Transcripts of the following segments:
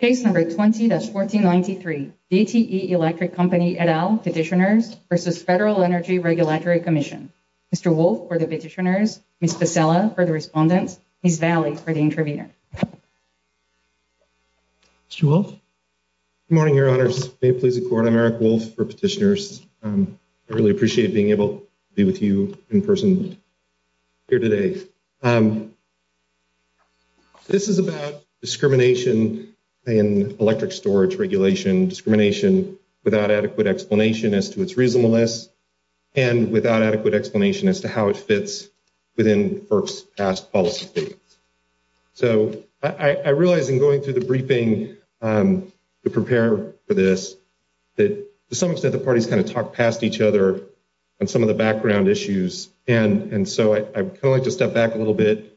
Case number 20-1493, DTE Electric Company et al. Petitioners v. Federal Energy Regulatory Commission. Mr. Wolf for the petitioners, Ms. Pescella for the respondents, Ms. Valley for the interviewer. Good morning, your honors. May it please the court, I'm Eric Wolf for petitioners. I really appreciate being able to be with you in person here today. This is about discrimination in electric storage regulation, discrimination without adequate explanation as to its reasonableness, and without adequate explanation as to how it fits within FERC's past policy statements. So I realize in going through the briefing to prepare for this that to some extent the parties kind of talk past each other on some of the background issues. And so I'd kind of like to step back a little bit,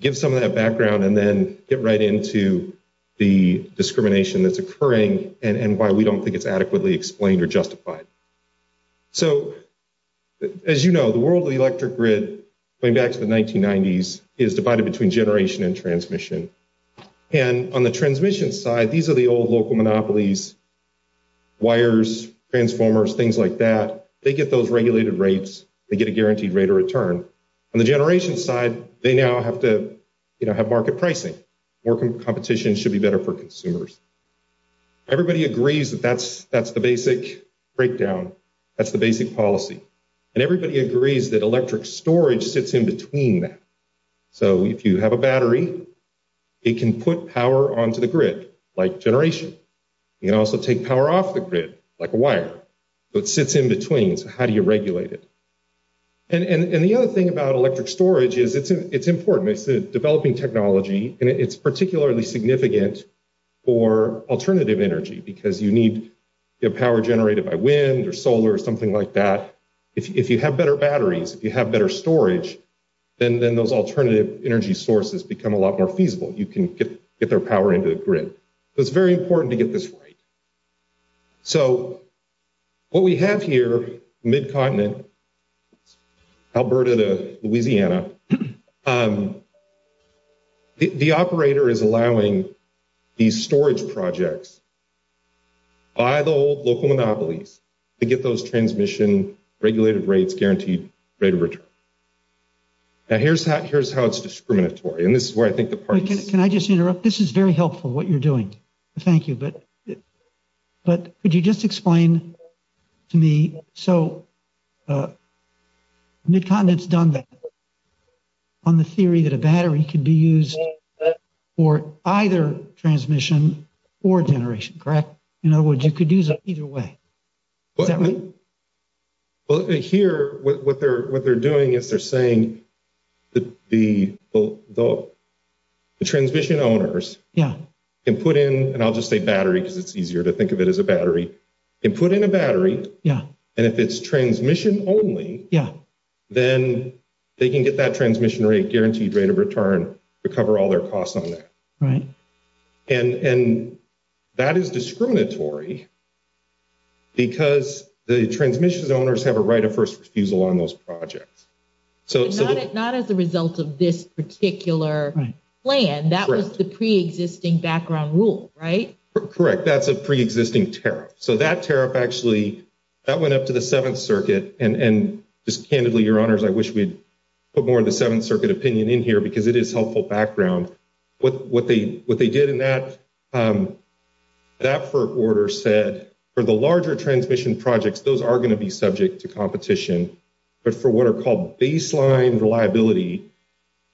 give some of that background, and then get right into the discrimination that's occurring and why we don't think it's adequately explained or justified. So as you know, the world of the electric grid going back to the 1990s is divided between generation and transmission. And on the transmission side, these are the old local monopolies, wires, transformers, things like that. They get those regulated rates. They get a guaranteed rate of return. On the generation side, they now have to, you know, have market pricing. More competition should be better for consumers. Everybody agrees that that's the basic breakdown. That's the basic policy. And everybody agrees that electric storage sits in between that. So if you have a battery, it can put power onto the grid like generation. It can also take power off the grid like a wire. So it sits in between. So how do you regulate it? And the other thing about electric storage is it's important. It's a developing technology, and it's particularly significant for alternative energy because you need power generated by wind or solar or something like that. If you have better batteries, if you have better storage, then those alternative energy sources become a lot more feasible. You can get their power into the grid. So it's very important to get this right. So what we have here, mid-continent, Alberta to Louisiana, the operator is allowing these storage projects by the old local monopolies to get those transmission regulated rates, guaranteed rate of return. Now, here's how it's discriminatory, and this is where I think the parties— Thank you, but could you just explain to me, so mid-continent's done that on the theory that a battery could be used for either transmission or generation, correct? In other words, you could use it either way. Is that right? Well, here, what they're doing is they're saying the transmission owners can put in—and I'll just say battery because it's easier to think of it as a battery—can put in a battery, and if it's transmission only, then they can get that transmission rate, guaranteed rate of return to cover all their costs on that. Right. And that is discriminatory because the transmission owners have a right of first refusal on those projects. But not as a result of this particular plan. That was the pre-existing background rule, right? Correct. That's a pre-existing tariff. So that tariff actually, that went up to the Seventh Circuit, and just candidly, Your Honors, I wish we'd put more of the Seventh Circuit opinion in here because it is helpful background. What they did in that order said for the larger transmission projects, those are going to be subject to competition, but for what are called baseline reliability,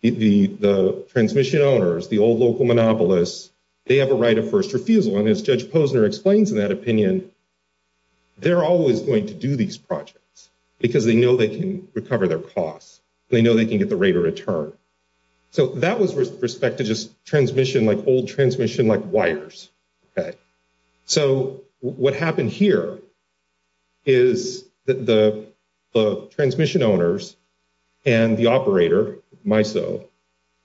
the transmission owners, the old local monopolists, they have a right of first refusal. And as Judge Posner explains in that opinion, they're always going to do these projects because they know they can recover their costs. They know they can get the rate of return. So that was with respect to just transmission, like old transmission, like wires. So what happened here is the transmission owners and the operator, MISO,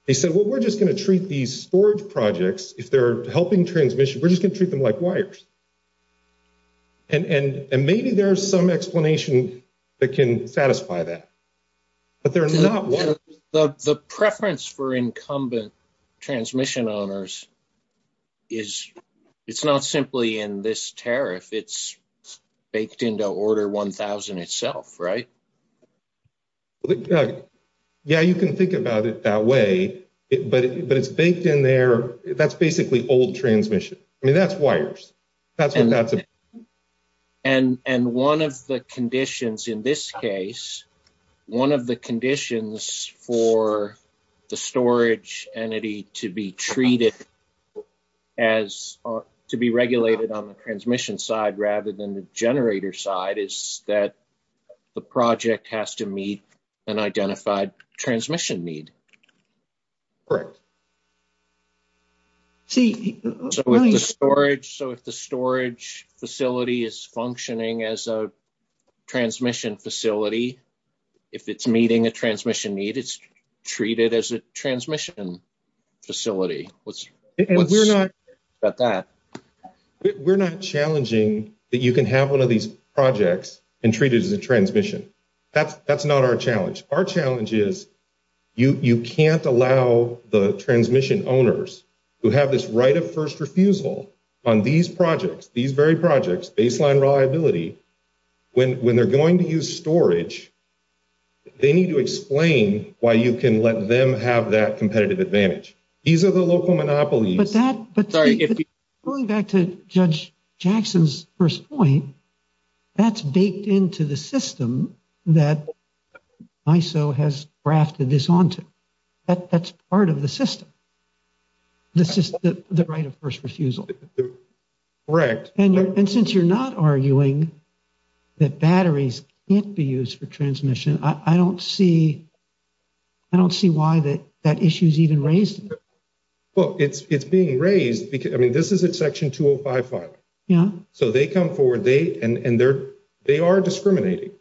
they said, well, we're just going to treat these storage projects, if they're helping transmission, we're just going to treat them like wires. And maybe there's some explanation that can satisfy that. The preference for incumbent transmission owners is, it's not simply in this tariff, it's baked into Order 1000 itself, right? Yeah, you can think about it that way, but it's baked in there. That's basically old transmission. I mean, that's wires. And one of the conditions in this case, one of the conditions for the storage entity to be treated as, to be regulated on the transmission side, rather than the generator side, is that the project has to meet an identified transmission need. Correct. So if the storage facility is functioning as a transmission facility, if it's meeting a transmission need, it's treated as a transmission facility. We're not challenging that you can have one of these projects and treat it as a transmission. That's not our challenge. Our challenge is, you can't allow the transmission owners who have this right of first refusal on these projects, these very projects, baseline reliability, when they're going to use storage, they need to explain why you can let them have that competitive advantage. These are the local monopolies. Going back to Judge Jackson's first point, that's baked into the system that ISO has grafted this onto. That's part of the system. The right of first refusal. Correct. And since you're not arguing that batteries can't be used for transmission, I don't see. I don't see why that that issue is even raised. Well, it's, it's being raised because, I mean, this is a section 2055. Yeah, so they come forward, they and they're, they are discriminating.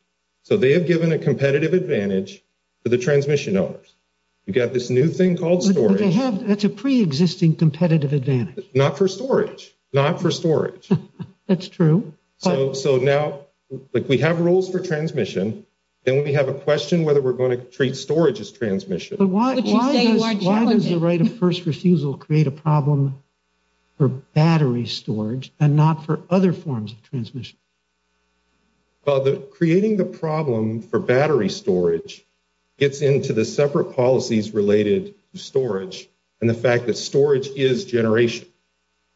So they have given a competitive advantage for the transmission owners. You've got this new thing called storage. That's a pre-existing competitive advantage. Not for storage, not for storage. That's true. So now, like, we have rules for transmission. Then we have a question whether we're going to treat storage as transmission. Why does the right of first refusal create a problem for battery storage and not for other forms of transmission? Well, creating the problem for battery storage gets into the separate policies related to storage and the fact that storage is generation.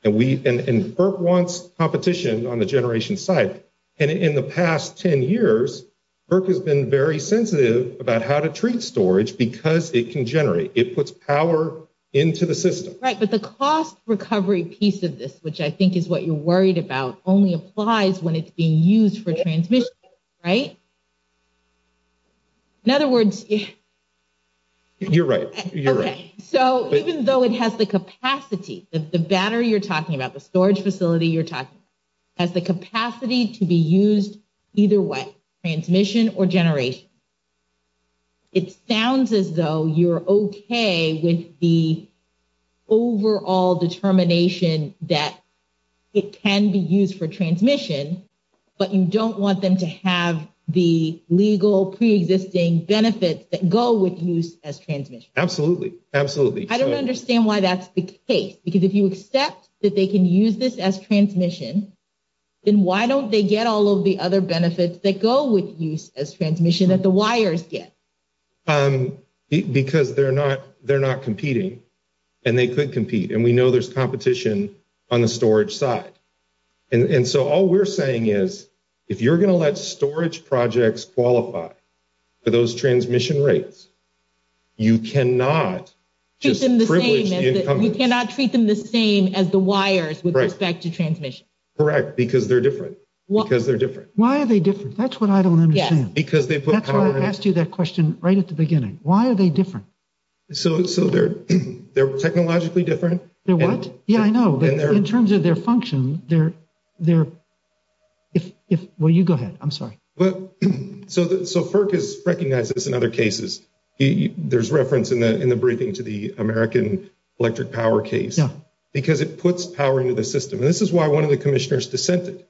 And we, and FERC wants competition on the generation side. And in the past 10 years, FERC has been very sensitive about how to treat storage because it can generate. It puts power into the system. Right, but the cost recovery piece of this, which I think is what you're worried about, only applies when it's being used for transmission. Right? In other words. You're right. So, even though it has the capacity, the battery you're talking about, the storage facility you're talking about, has the capacity to be used either way, transmission or generation. It sounds as though you're okay with the overall determination that it can be used for transmission, but you don't want them to have the legal preexisting benefits that go with use as transmission. Absolutely. Absolutely. I don't understand why that's the case. Because if you accept that they can use this as transmission, then why don't they get all of the other benefits that go with use as transmission that the wires get? Because they're not competing and they could compete. And we know there's competition on the storage side. And so all we're saying is, if you're going to let storage projects qualify for those transmission rates, you cannot just privilege the incumbents. You cannot treat them the same as the wires with respect to transmission. Correct, because they're different. Because they're different. Why are they different? That's what I don't understand. Yes. That's why I asked you that question right at the beginning. Why are they different? So, they're technologically different. They're what? Yeah, I know. But in terms of their function, they're – well, you go ahead. I'm sorry. So, FERC has recognized this in other cases. There's reference in the briefing to the American electric power case. Because it puts power into the system. And this is why one of the commissioners dissented.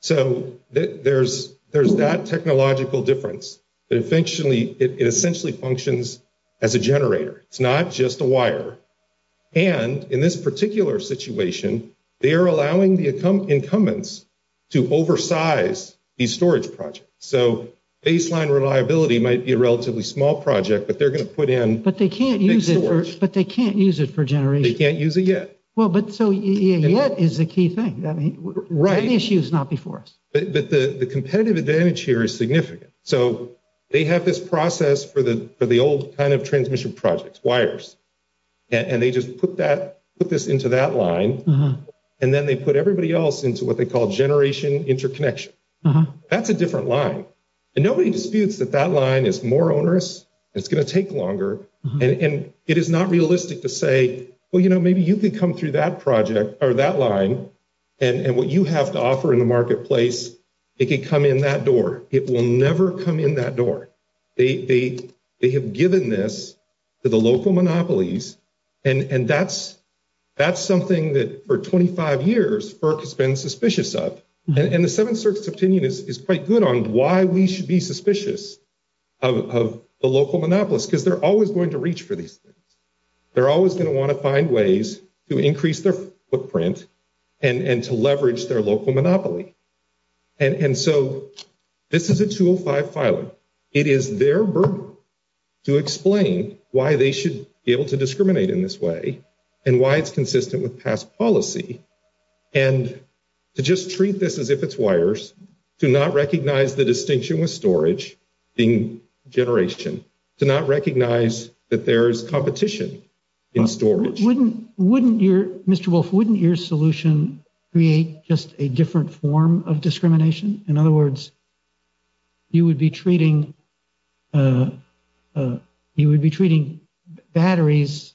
So, there's that technological difference. It's not just a wire. And in this particular situation, they are allowing the incumbents to oversize these storage projects. So, baseline reliability might be a relatively small project, but they're going to put in big storage. But they can't use it for generation. They can't use it yet. Well, but so, yet is the key thing. Right. The issue is not before us. But the competitive advantage here is significant. So, they have this process for the old kind of transmission projects, wires. And they just put this into that line. And then they put everybody else into what they call generation interconnection. That's a different line. And nobody disputes that that line is more onerous. It's going to take longer. And it is not realistic to say, well, you know, maybe you could come through that project or that line. And what you have to offer in the marketplace, it could come in that door. It will never come in that door. They have given this to the local monopolies. And that's something that for 25 years FERC has been suspicious of. And the Seventh Circuit's opinion is quite good on why we should be suspicious of the local monopolists. Because they're always going to reach for these things. They're always going to want to find ways to increase their footprint and to leverage their local monopoly. And so, this is a 205 filing. It is their burden to explain why they should be able to discriminate in this way and why it's consistent with past policy. And to just treat this as if it's wires, to not recognize the distinction with storage being generation, to not recognize that there is competition in storage. Wouldn't your solution create just a different form of discrimination? In other words, you would be treating batteries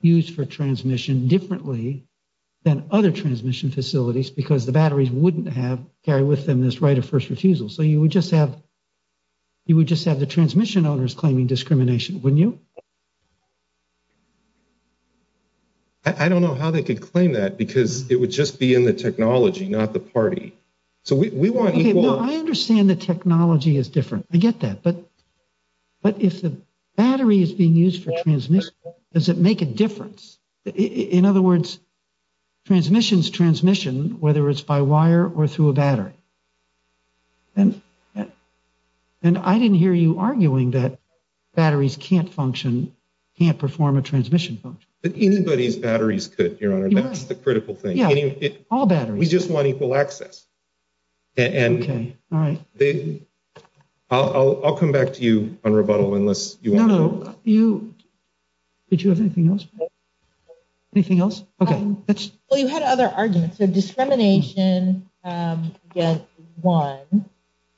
used for transmission differently than other transmission facilities because the batteries wouldn't carry with them this right of first refusal. So, you would just have the transmission owners claiming discrimination, wouldn't you? I don't know how they could claim that because it would just be in the technology, not the party. So, we want equal… Okay, no, I understand the technology is different. I get that. But if the battery is being used for transmission, does it make a difference? In other words, transmission is transmission, whether it's by wire or through a battery. And I didn't hear you arguing that batteries can't function, can't perform a transmission function. Anybody's batteries could, Your Honor. That's the critical thing. Yeah, all batteries. We just want equal access. Okay, all right. I'll come back to you on rebuttal unless you want to… No, no, you… Did you have anything else? Anything else? Okay. Well, you had other arguments. So, discrimination gets one.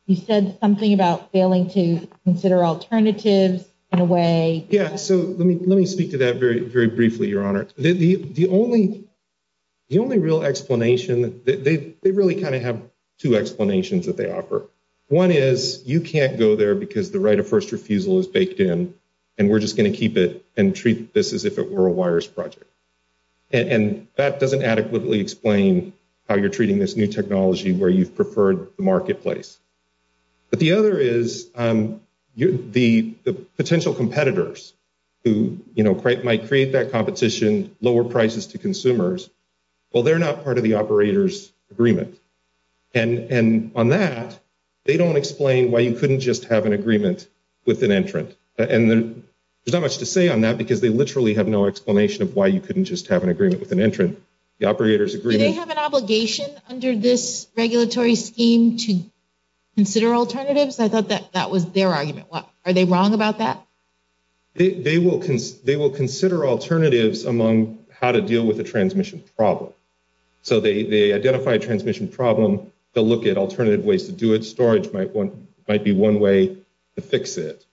You said something about failing to consider alternatives in a way… Yeah, so let me speak to that very briefly, Your Honor. The only real explanation, they really kind of have two explanations that they offer. One is you can't go there because the right of first refusal is baked in, and we're just going to keep it and treat this as if it were a wireless project. And that doesn't adequately explain how you're treating this new technology where you've preferred the marketplace. But the other is the potential competitors who might create that competition, lower prices to consumers, well, they're not part of the operator's agreement. And on that, they don't explain why you couldn't just have an agreement with an entrant. And there's not much to say on that because they literally have no explanation of why you couldn't just have an agreement with an entrant. The operator's agreement… So, they considered this regulatory scheme to consider alternatives? I thought that was their argument. Are they wrong about that? They will consider alternatives among how to deal with a transmission problem. So, they identify a transmission problem. They'll look at alternative ways to do it. Storage might be one way to fix it.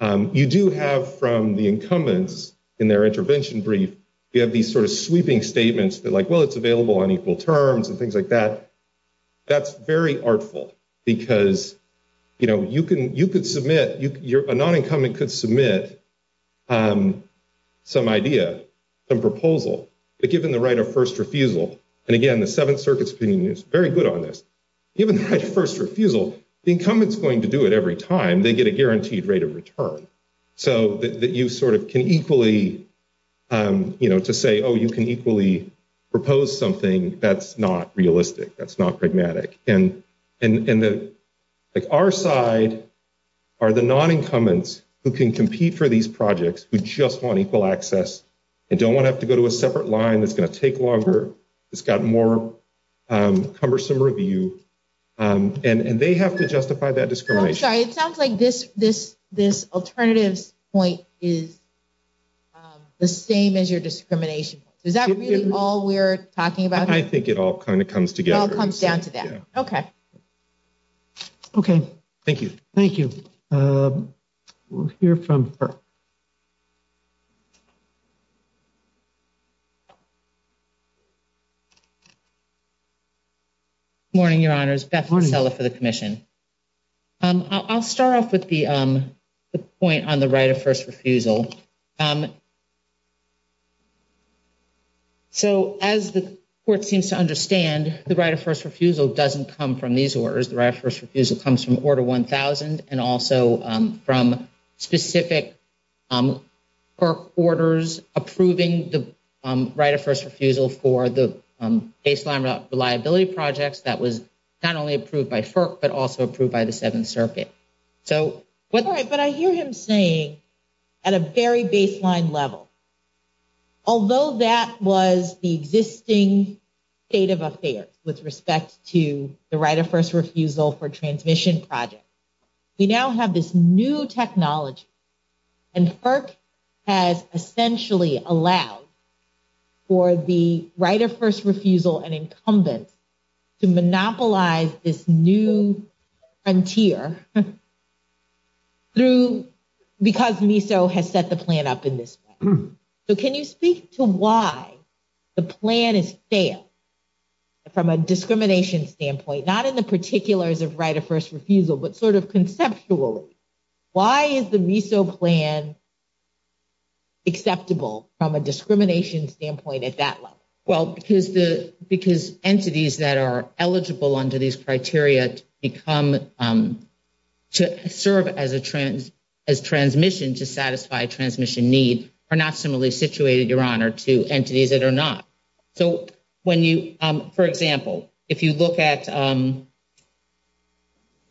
You do have from the incumbents in their intervention brief, you have these sort of sweeping statements that like, well, it's available on equal terms and things like that. That's very artful because, you know, you could submit, a non-incumbent could submit some idea, a proposal. But given the right of first refusal, and again, the Seventh Circuit's opinion is very good on this. Given the right of first refusal, the incumbent's going to do it every time. They get a guaranteed rate of return. So, that you sort of can equally, you know, to say, oh, you can equally propose something, that's not realistic. That's not pragmatic. And our side are the non-incumbents who can compete for these projects, who just want equal access, and don't want to have to go to a separate line that's going to take longer. It's got more cumbersome review. And they have to justify that discrimination. I'm sorry, it sounds like this alternative point is the same as your discrimination point. Is that really all we're talking about? I think it all kind of comes together. It all comes down to that. Okay. Okay. Thank you. Thank you. We'll hear from her. Good morning, Your Honors. Beth Mosella for the commission. I'll start off with the point on the right of first refusal. So, as the court seems to understand, the right of first refusal doesn't come from these orders. The right of first refusal comes from Order 1000, and also from specific FERC orders approving the right of first refusal for the baseline reliability projects that was not only approved by FERC, but also approved by the Seventh Circuit. But I hear him saying, at a very baseline level, although that was the existing state of affairs with respect to the right of first refusal for transmission projects, we now have this new technology. And FERC has essentially allowed for the right of first refusal and incumbents to monopolize this new frontier because MISO has set the plan up in this way. So, can you speak to why the plan is stale from a discrimination standpoint, not in the particulars of right of first refusal, but sort of conceptually? Why is the MISO plan acceptable from a discrimination standpoint at that level? Well, because entities that are eligible under these criteria to serve as transmission to satisfy transmission need are not similarly situated, Your Honor, to entities that are not. So, when you, for example, if you look at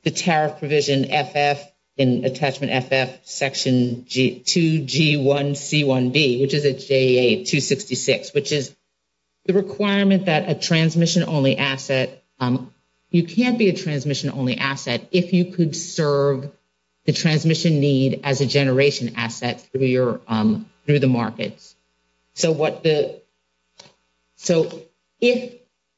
the tariff provision, FF, in Attachment FF, Section 2G1C1B, which is a JA-266, which is the requirement that a transmission-only asset, you can't be a transmission-only asset if you could serve the transmission need as a generation asset through the markets. So, if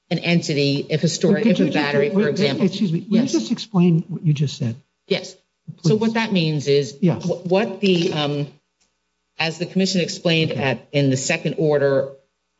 an entity, if a battery, for example. Excuse me. Can you just explain what you just said? Yes. So, what that means is what the, as the commission explained in the second order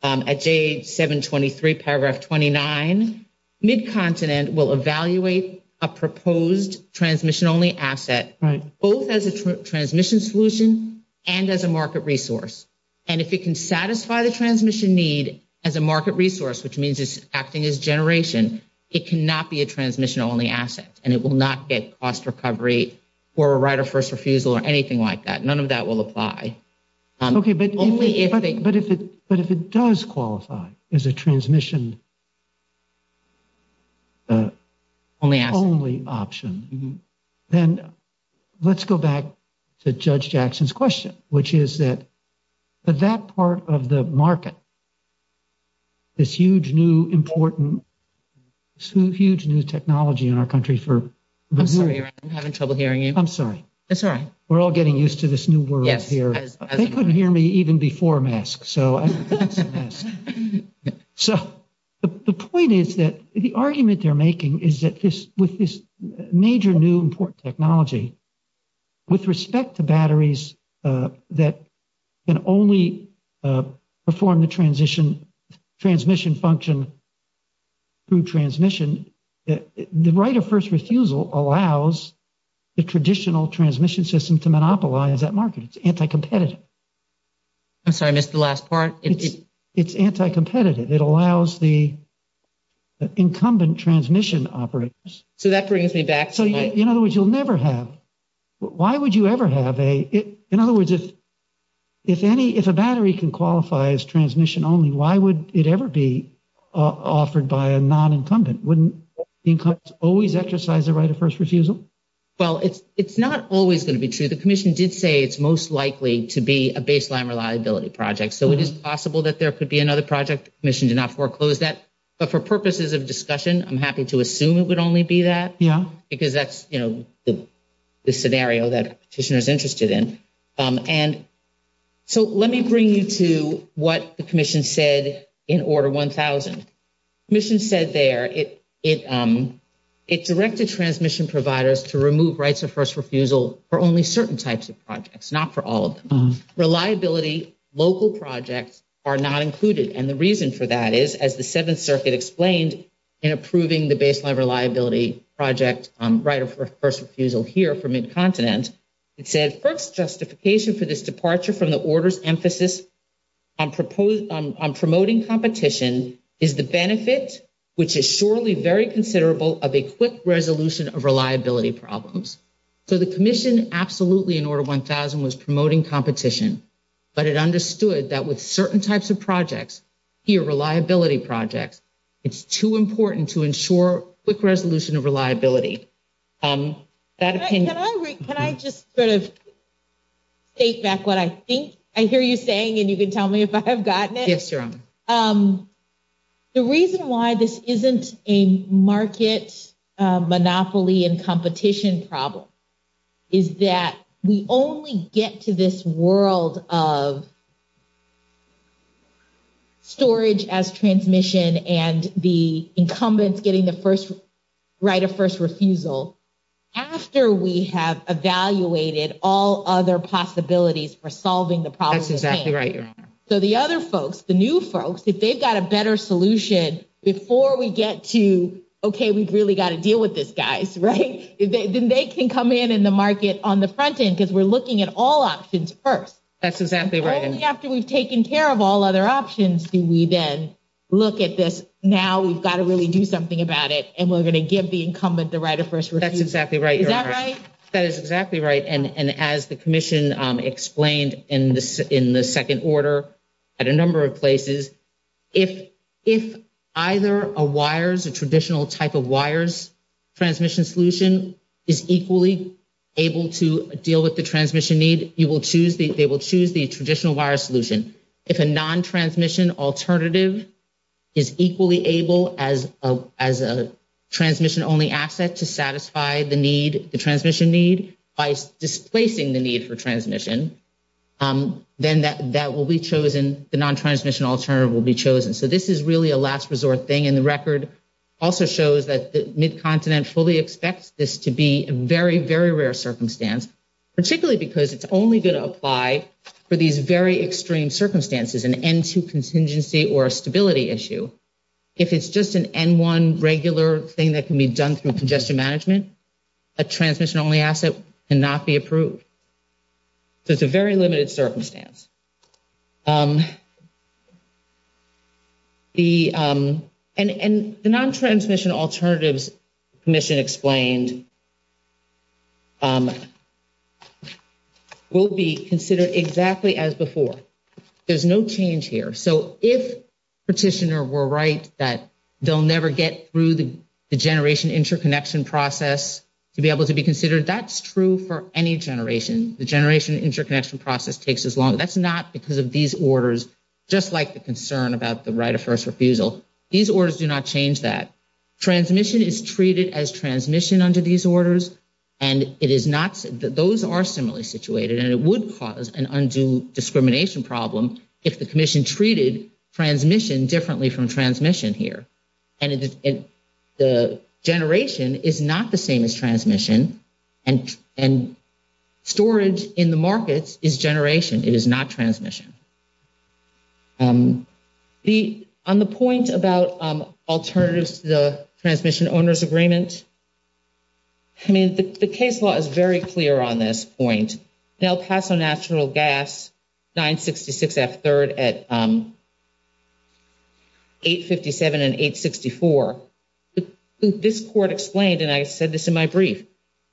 at JA-723, Paragraph 29, Mid-Continent will evaluate a proposed transmission-only asset both as a transmission solution and as a market resource. And if it can satisfy the transmission need as a market resource, which means it's acting as generation, it cannot be a transmission-only asset. And it will not get cost recovery or a right of first refusal or anything like that. None of that will apply. Okay, but if it does qualify as a transmission-only option, then let's go back to Judge Jackson's question, which is that that part of the market, this huge new important, huge new technology in our country for. I'm sorry, I'm having trouble hearing you. I'm sorry. That's all right. We're all getting used to this new world here. They couldn't hear me even before masks. So, the point is that the argument they're making is that this, with this major new important technology. With respect to batteries that can only perform the transmission function through transmission, the right of first refusal allows the traditional transmission system to monopolize that market. It's anti-competitive. I'm sorry, I missed the last part. It's anti-competitive. It allows the incumbent transmission operators. So, that brings me back. So, in other words, you'll never have. Why would you ever have a, in other words, if a battery can qualify as transmission-only, why would it ever be offered by a non-incumbent? Wouldn't the incumbents always exercise the right of first refusal? Well, it's not always going to be true. The commission did say it's most likely to be a baseline reliability project. So, it is possible that there could be another project. The commission did not foreclose that. But for purposes of discussion, I'm happy to assume it would only be that. Yeah. Because that's, you know, the scenario that a petitioner is interested in. And so, let me bring you to what the commission said in Order 1000. The commission said there it directed transmission providers to remove rights of first refusal for only certain types of projects, not for all of them. Reliability local projects are not included. And the reason for that is, as the Seventh Circuit explained in approving the baseline reliability project right of first refusal here for Mid-Continent, it said FERC's justification for this departure from the order's emphasis on promoting competition is the benefit, which is surely very considerable, of a quick resolution of reliability problems. So, the commission absolutely in Order 1000 was promoting competition. But it understood that with certain types of projects, here reliability projects, it's too important to ensure quick resolution of reliability. Can I just sort of state back what I think? I hear you saying, and you can tell me if I have gotten it. Yes, Your Honor. The reason why this isn't a market monopoly and competition problem is that we only get to this world of storage as transmission and the incumbents getting the first right of first refusal after we have evaluated all other possibilities for solving the problem. That's exactly right, Your Honor. So, the other folks, the new folks, if they've got a better solution before we get to, okay, we've really got to deal with this, guys, right? Then they can come in in the market on the front end because we're looking at all options first. That's exactly right. Only after we've taken care of all other options do we then look at this. Now we've got to really do something about it, and we're going to give the incumbent the right of first refusal. That's exactly right, Your Honor. Is that right? That is exactly right. And as the commission explained in the second order at a number of places, if either a wires, a traditional type of wires transmission solution is equally able to deal with the transmission need, they will choose the traditional wire solution. If a non-transmission alternative is equally able as a transmission-only asset to satisfy the need, the transmission need by displacing the need for transmission, then that will be chosen, the non-transmission alternative will be chosen. So, this is really a last resort thing, and the record also shows that the Mid-Continent fully expects this to be a very, very rare circumstance, particularly because it's only going to apply for these very extreme circumstances, an N2 contingency or a stability issue. If it's just an N1 regular thing that can be done through congestion management, a transmission-only asset cannot be approved. So, it's a very limited circumstance. And the non-transmission alternatives commission explained will be considered exactly as before. There's no change here. So, if Petitioner were right that they'll never get through the generation interconnection process to be able to be considered, that's true for any generation. The generation interconnection process takes as long. That's not because of these orders, just like the concern about the right of first refusal. These orders do not change that. Transmission is treated as transmission under these orders, and those are similarly situated, and it would cause an undue discrimination problem if the commission treated transmission differently from transmission here. The generation is not the same as transmission, and storage in the markets is generation. It is not transmission. On the point about alternatives to the Transmission Owners Agreement, I mean, the case law is very clear on this point. In El Paso Natural Gas 966F3rd at 857 and 864, this court explained, and I said this in my brief,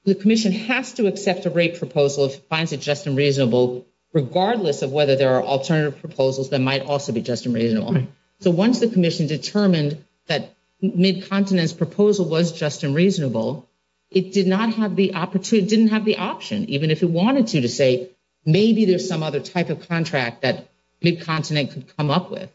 the commission has to accept a rate proposal if it finds it just and reasonable, regardless of whether there are alternative proposals that might also be just and reasonable. So, once the commission determined that Mid-Continent's proposal was just and reasonable, it did not have the opportunity, didn't have the option, even if it wanted to, to say maybe there's some other type of contract that Mid-Continent could come up with.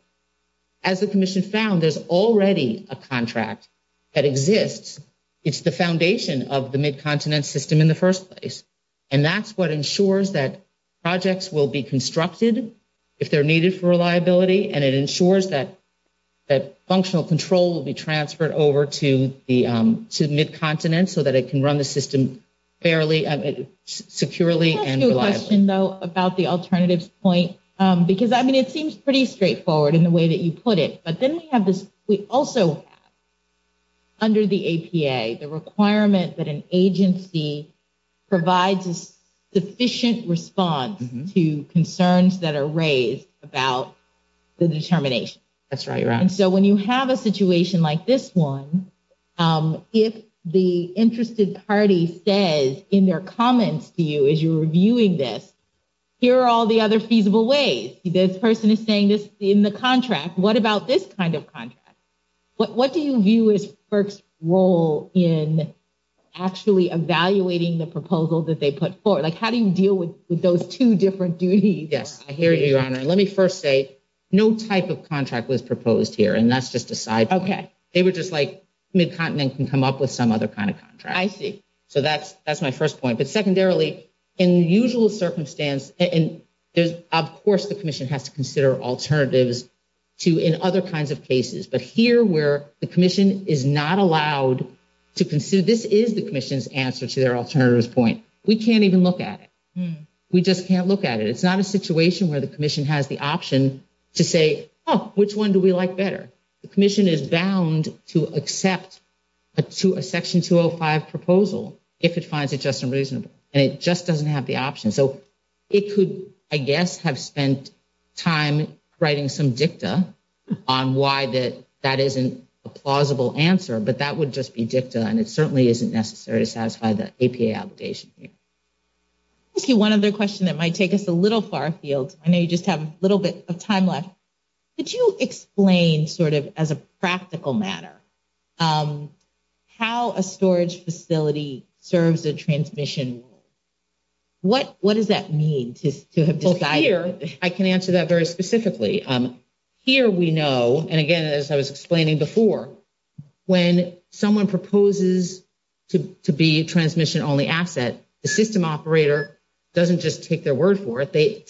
As the commission found, there's already a contract that exists. It's the foundation of the Mid-Continent system in the first place, and that's what ensures that projects will be constructed if they're needed for reliability, and it ensures that functional control will be transferred over to Mid-Continent so that it can run the system securely and reliably. Can I ask you a question, though, about the alternatives point? Because, I mean, it seems pretty straightforward in the way that you put it, but then we also have under the APA the requirement that an agency provides a sufficient response to concerns that are raised about the determination. That's right. And so when you have a situation like this one, if the interested party says in their comments to you as you're reviewing this, here are all the other feasible ways. This person is saying this in the contract. What about this kind of contract? What do you view as FERC's role in actually evaluating the proposal that they put forward? Like, how do you deal with those two different duties? Yes, I hear you, Your Honor. Let me first say no type of contract was proposed here, and that's just a side point. Okay. They were just like Mid-Continent can come up with some other kind of contract. I see. So that's my first point. But secondarily, in the usual circumstance, and of course the Commission has to consider alternatives in other kinds of cases, but here where the Commission is not allowed to consider, this is the Commission's answer to their alternatives point. We can't even look at it. We just can't look at it. It's not a situation where the Commission has the option to say, oh, which one do we like better? The Commission is bound to accept a Section 205 proposal if it finds it just unreasonable, and it just doesn't have the option. So it could, I guess, have spent time writing some dicta on why that isn't a plausible answer, but that would just be dicta, and it certainly isn't necessary to satisfy the APA obligation here. Thank you. One other question that might take us a little far afield. I know you just have a little bit of time left. Could you explain sort of as a practical matter how a storage facility serves a transmission? What does that mean to have decided? Well, here I can answer that very specifically. Here we know, and again, as I was explaining before, when someone proposes to be a transmission-only asset, the system operator doesn't just take their word for it. They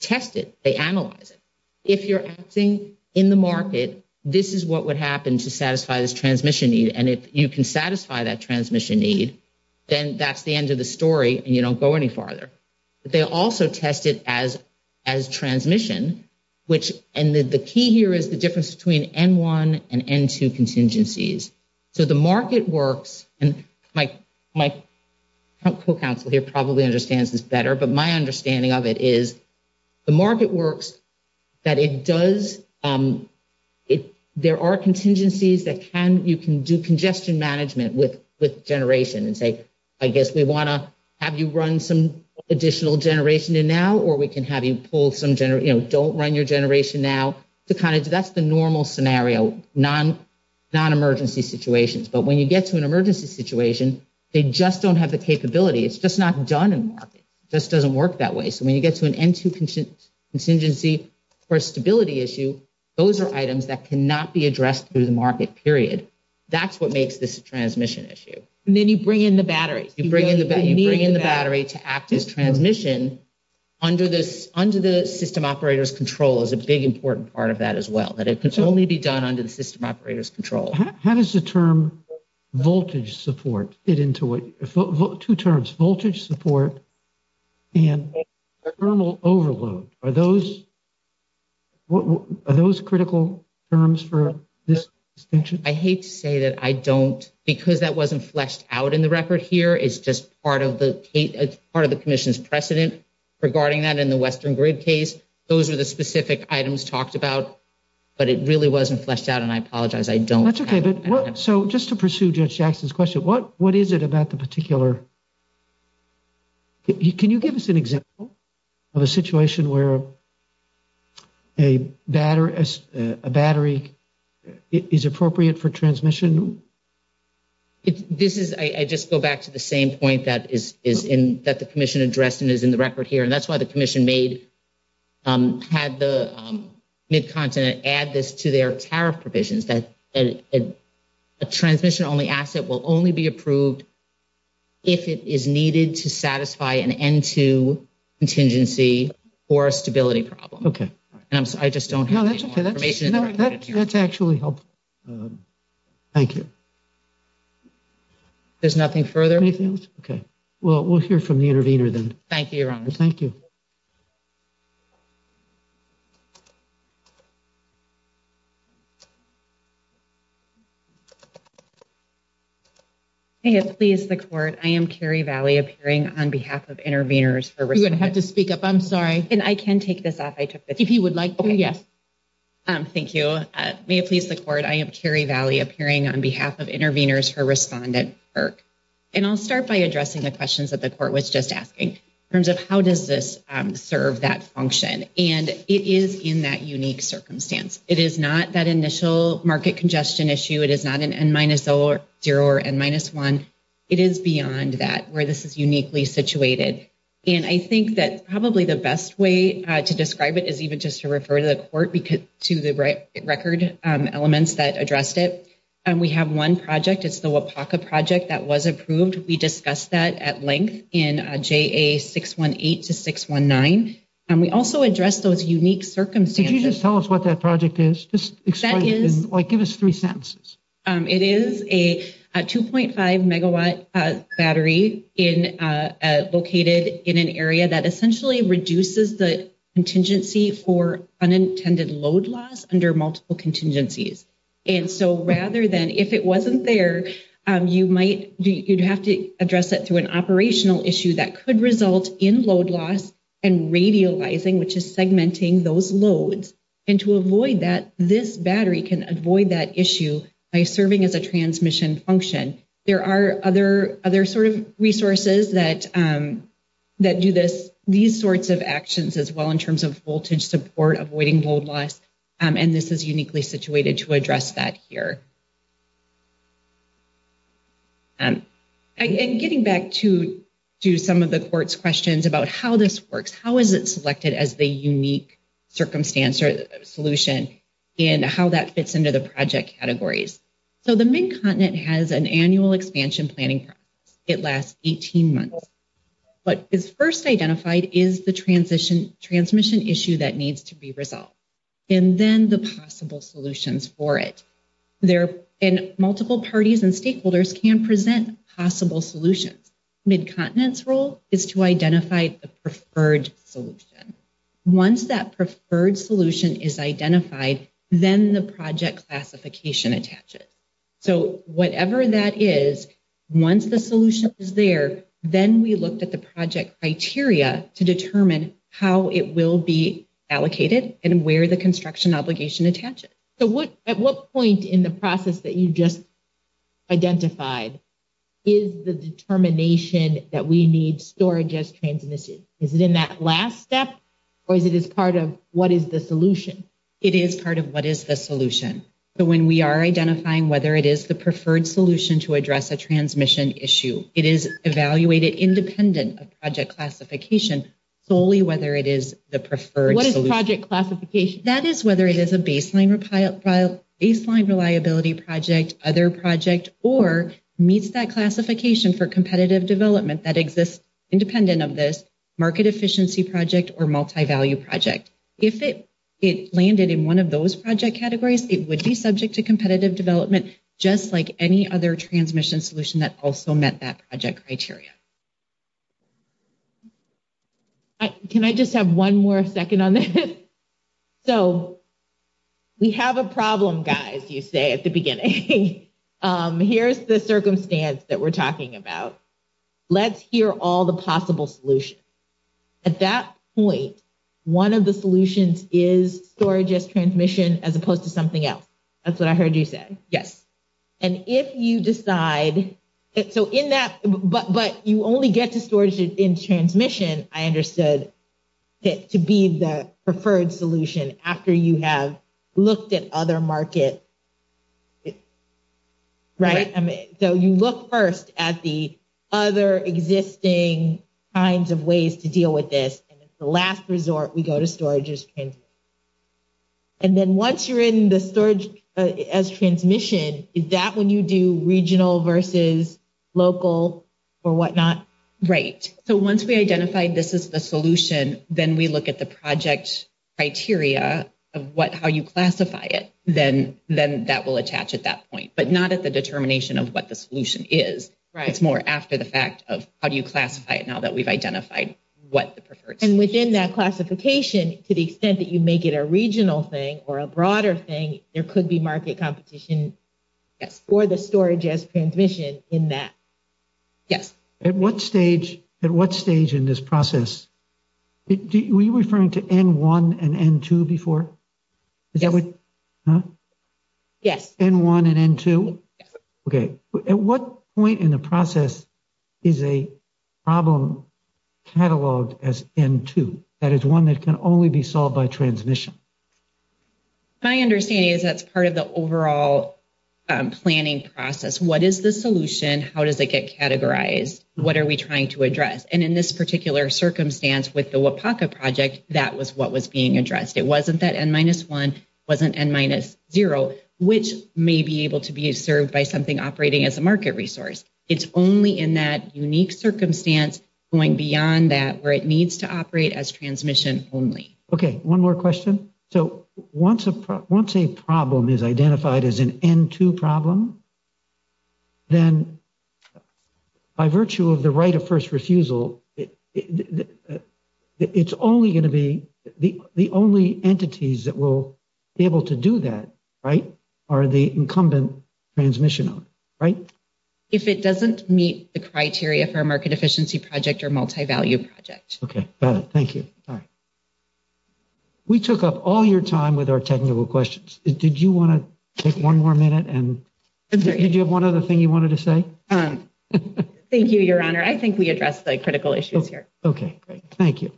test it. They analyze it. If you're acting in the market, this is what would happen to satisfy this transmission need, and if you can satisfy that transmission need, then that's the end of the story, and you don't go any farther. They also test it as transmission, and the key here is the difference between N1 and N2 contingencies. So the market works, and my co-counsel here probably understands this better, but my understanding of it is the market works, that there are contingencies that you can do congestion management with generation and say, I guess we want to have you run some additional generation in now, or we can have you pull some, you know, don't run your generation now. That's the normal scenario, non-emergency situations, but when you get to an emergency situation, they just don't have the capability. It's just not done in the market. It just doesn't work that way, so when you get to an N2 contingency or a stability issue, those are items that cannot be addressed through the market, period. That's what makes this a transmission issue. And then you bring in the battery. You bring in the battery to act as transmission under the system operator's control is a big important part of that as well, that it can only be done under the system operator's control. How does the term voltage support fit into it? Two terms, voltage support and thermal overload. Are those critical terms for this extension? I hate to say that I don't, because that wasn't fleshed out in the record here. It's just part of the commission's precedent regarding that in the Western Grid case. Those are the specific items talked about, but it really wasn't fleshed out, and I apologize. I don't have it. That's okay. So just to pursue Judge Jackson's question, what is it about the particular? Can you give us an example of a situation where a battery is appropriate for transmission? I just go back to the same point that the commission addressed and is in the record here, and that's why the commission had the Mid-Continent add this to their tariff provisions, that a transmission-only asset will only be approved if it is needed to satisfy an N2 contingency or a stability problem. Okay. I just don't have any more information. That's actually helpful. Thank you. There's nothing further? Anything else? Okay. Well, we'll hear from the intervener then. Thank you, Your Honor. Thank you. May it please the Court, I am Carrie Valley, appearing on behalf of Interveners for Respondent IRC. You're going to have to speak up. I'm sorry. And I can take this off. If you would like to, yes. Thank you. May it please the Court, I am Carrie Valley, appearing on behalf of Interveners for Respondent IRC. And I'll start by addressing the questions that the Court was just asking in terms of how does this serve that function, and it is in that unique circumstance. It is not that initial market congestion issue. It is not an N-0 or N-1. It is beyond that where this is uniquely situated. And I think that probably the best way to describe it is even just to refer to the Court to the record elements that addressed it. We have one project. It's the Wapaka project that was approved. We discussed that at length in JA618 to 619. And we also addressed those unique circumstances. Could you just tell us what that project is? Just explain it, like give us three sentences. It is a 2.5 megawatt battery located in an area that essentially reduces the contingency for unintended load loss under multiple contingencies. And so rather than if it wasn't there, you'd have to address it through an operational issue that could result in load loss and radializing, which is segmenting those loads. And to avoid that, this battery can avoid that issue by serving as a transmission function. There are other sort of resources that do these sorts of actions as well in terms of voltage support, avoiding load loss. And this is uniquely situated to address that here. And getting back to some of the Court's questions about how this works, how is it selected as the unique circumstance or solution and how that fits into the project categories. So the Mid-Continent has an annual expansion planning process. It lasts 18 months. What is first identified is the transmission issue that needs to be resolved and then the possible solutions for it. And multiple parties and stakeholders can present possible solutions. Mid-Continent's role is to identify the preferred solution. Once that preferred solution is identified, then the project classification attaches. So whatever that is, once the solution is there, then we looked at the project criteria to determine how it will be allocated and where the construction obligation attaches. So at what point in the process that you just identified is the determination that we need storage as transmission? Is it in that last step or is it as part of what is the solution? It is part of what is the solution. So when we are identifying whether it is the preferred solution to address a transmission issue, it is evaluated independent of project classification solely whether it is the preferred solution. What is project classification? That is whether it is a baseline reliability project, other project, or meets that classification for competitive development that exists independent of this market efficiency project or multivalue project. If it landed in one of those project categories, it would be subject to competitive development just like any other transmission solution that also met that project criteria. Can I just have one more second on this? So we have a problem, guys, you say at the beginning. Here is the circumstance that we are talking about. Let's hear all the possible solutions. At that point, one of the solutions is storage as transmission as opposed to something else. That's what I heard you say. Yes. And if you decide, so in that, but you only get to storage in transmission, I understood to be the preferred solution after you have looked at other market. Right. So you look first at the other existing kinds of ways to deal with this, and it's the last resort we go to storage as transmission. And then once you're in the storage as transmission, is that when you do regional versus local or whatnot? Right. So once we identify this is the solution, then we look at the project criteria of how you classify it. Then that will attach at that point, but not at the determination of what the solution is. It's more after the fact of how do you classify it now that we've identified what the preferred solution is. And within that classification, to the extent that you make it a regional thing or a broader thing, there could be market competition for the storage as transmission in that. Yes. At what stage, at what stage in this process? Were you referring to N1 and N2 before? Yes. Huh? Yes. N1 and N2? Yes. Okay. At what point in the process is a problem cataloged as N2? That is one that can only be solved by transmission. My understanding is that's part of the overall planning process. What is the solution? How does it get categorized? What are we trying to address? And in this particular circumstance with the WAPACA project, that was what was being addressed. It wasn't that N-1, it wasn't N-0, which may be able to be served by something operating as a market resource. It's only in that unique circumstance going beyond that where it needs to operate as transmission only. Okay. One more question. So once a problem is identified as an N2 problem, then by virtue of the right of first refusal, it's only going to be the only entities that will be able to do that, right, are the incumbent transmission only, right? If it doesn't meet the criteria for a market efficiency project or multivalue project. Okay. Got it. Thank you. We took up all your time with our technical questions. Did you want to take one more minute? And did you have one other thing you wanted to say? Thank you, Your Honor. I think we addressed the critical issues here. Okay, great. Thank you.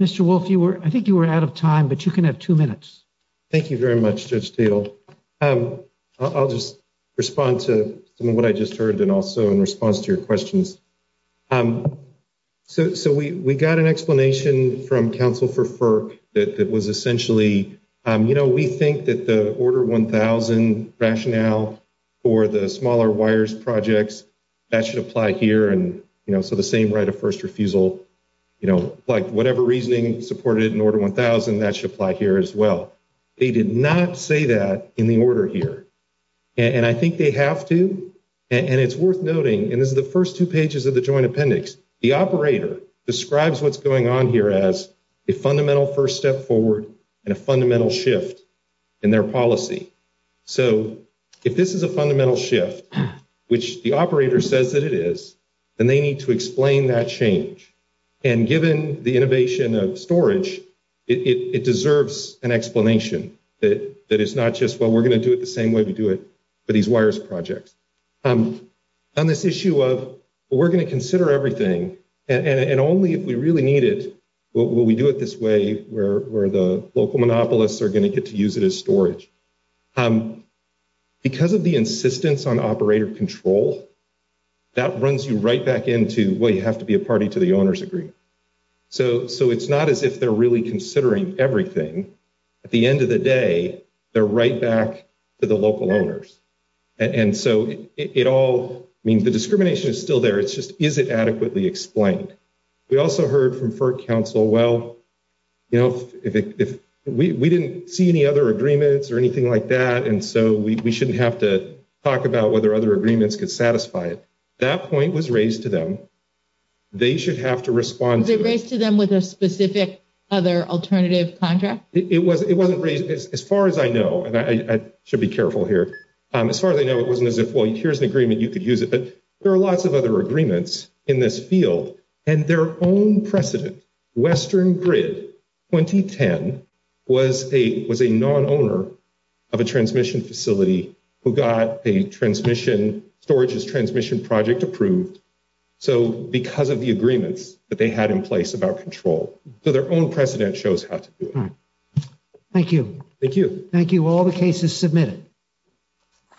Mr. Wolf, I think you were out of time, but you can have two minutes. Thank you very much, Judge Steele. I'll just respond to some of what I just heard and also in response to your questions. So we got an explanation from counsel for FERC that was essentially, you know, we think that the Order 1000 rationale for the smaller wires projects, that should apply here. And, you know, so the same right of first refusal, you know, like, whatever reasoning supported in Order 1000, that should apply here as well. They did not say that in the order here. And I think they have to. And it's worth noting, and this is the first two pages of the Joint Appendix, the operator describes what's going on here as a fundamental first step forward and a fundamental shift in their policy. So if this is a fundamental shift, which the operator says that it is, then they need to explain that change. And given the innovation of storage, it deserves an explanation that it's not just, well, we're going to do it the same way we do it for these wires projects. On this issue of, well, we're going to consider everything, and only if we really need it will we do it this way where the local monopolists are going to get to use it as storage. Because of the insistence on operator control, that runs you right back into, well, you have to be a party to the owner's agreement. So it's not as if they're really considering everything. At the end of the day, they're right back to the local owners. And so it all means the discrimination is still there. It's just, is it adequately explained? We also heard from FERC counsel, well, we didn't see any other agreements or anything like that, and so we shouldn't have to talk about whether other agreements could satisfy it. That point was raised to them. They should have to respond to it. Was it raised to them with a specific other alternative contract? It wasn't raised. As far as I know, and I should be careful here, as far as I know, it wasn't as if, well, here's an agreement, you could use it. But there are lots of other agreements in this field. And their own precedent, Western Grid 2010, was a non-owner of a transmission facility who got a transmission, storage as transmission project approved. So because of the agreements that they had in place about control. So their own precedent shows how to do it. Thank you. Thank you. Thank you. All the cases submitted.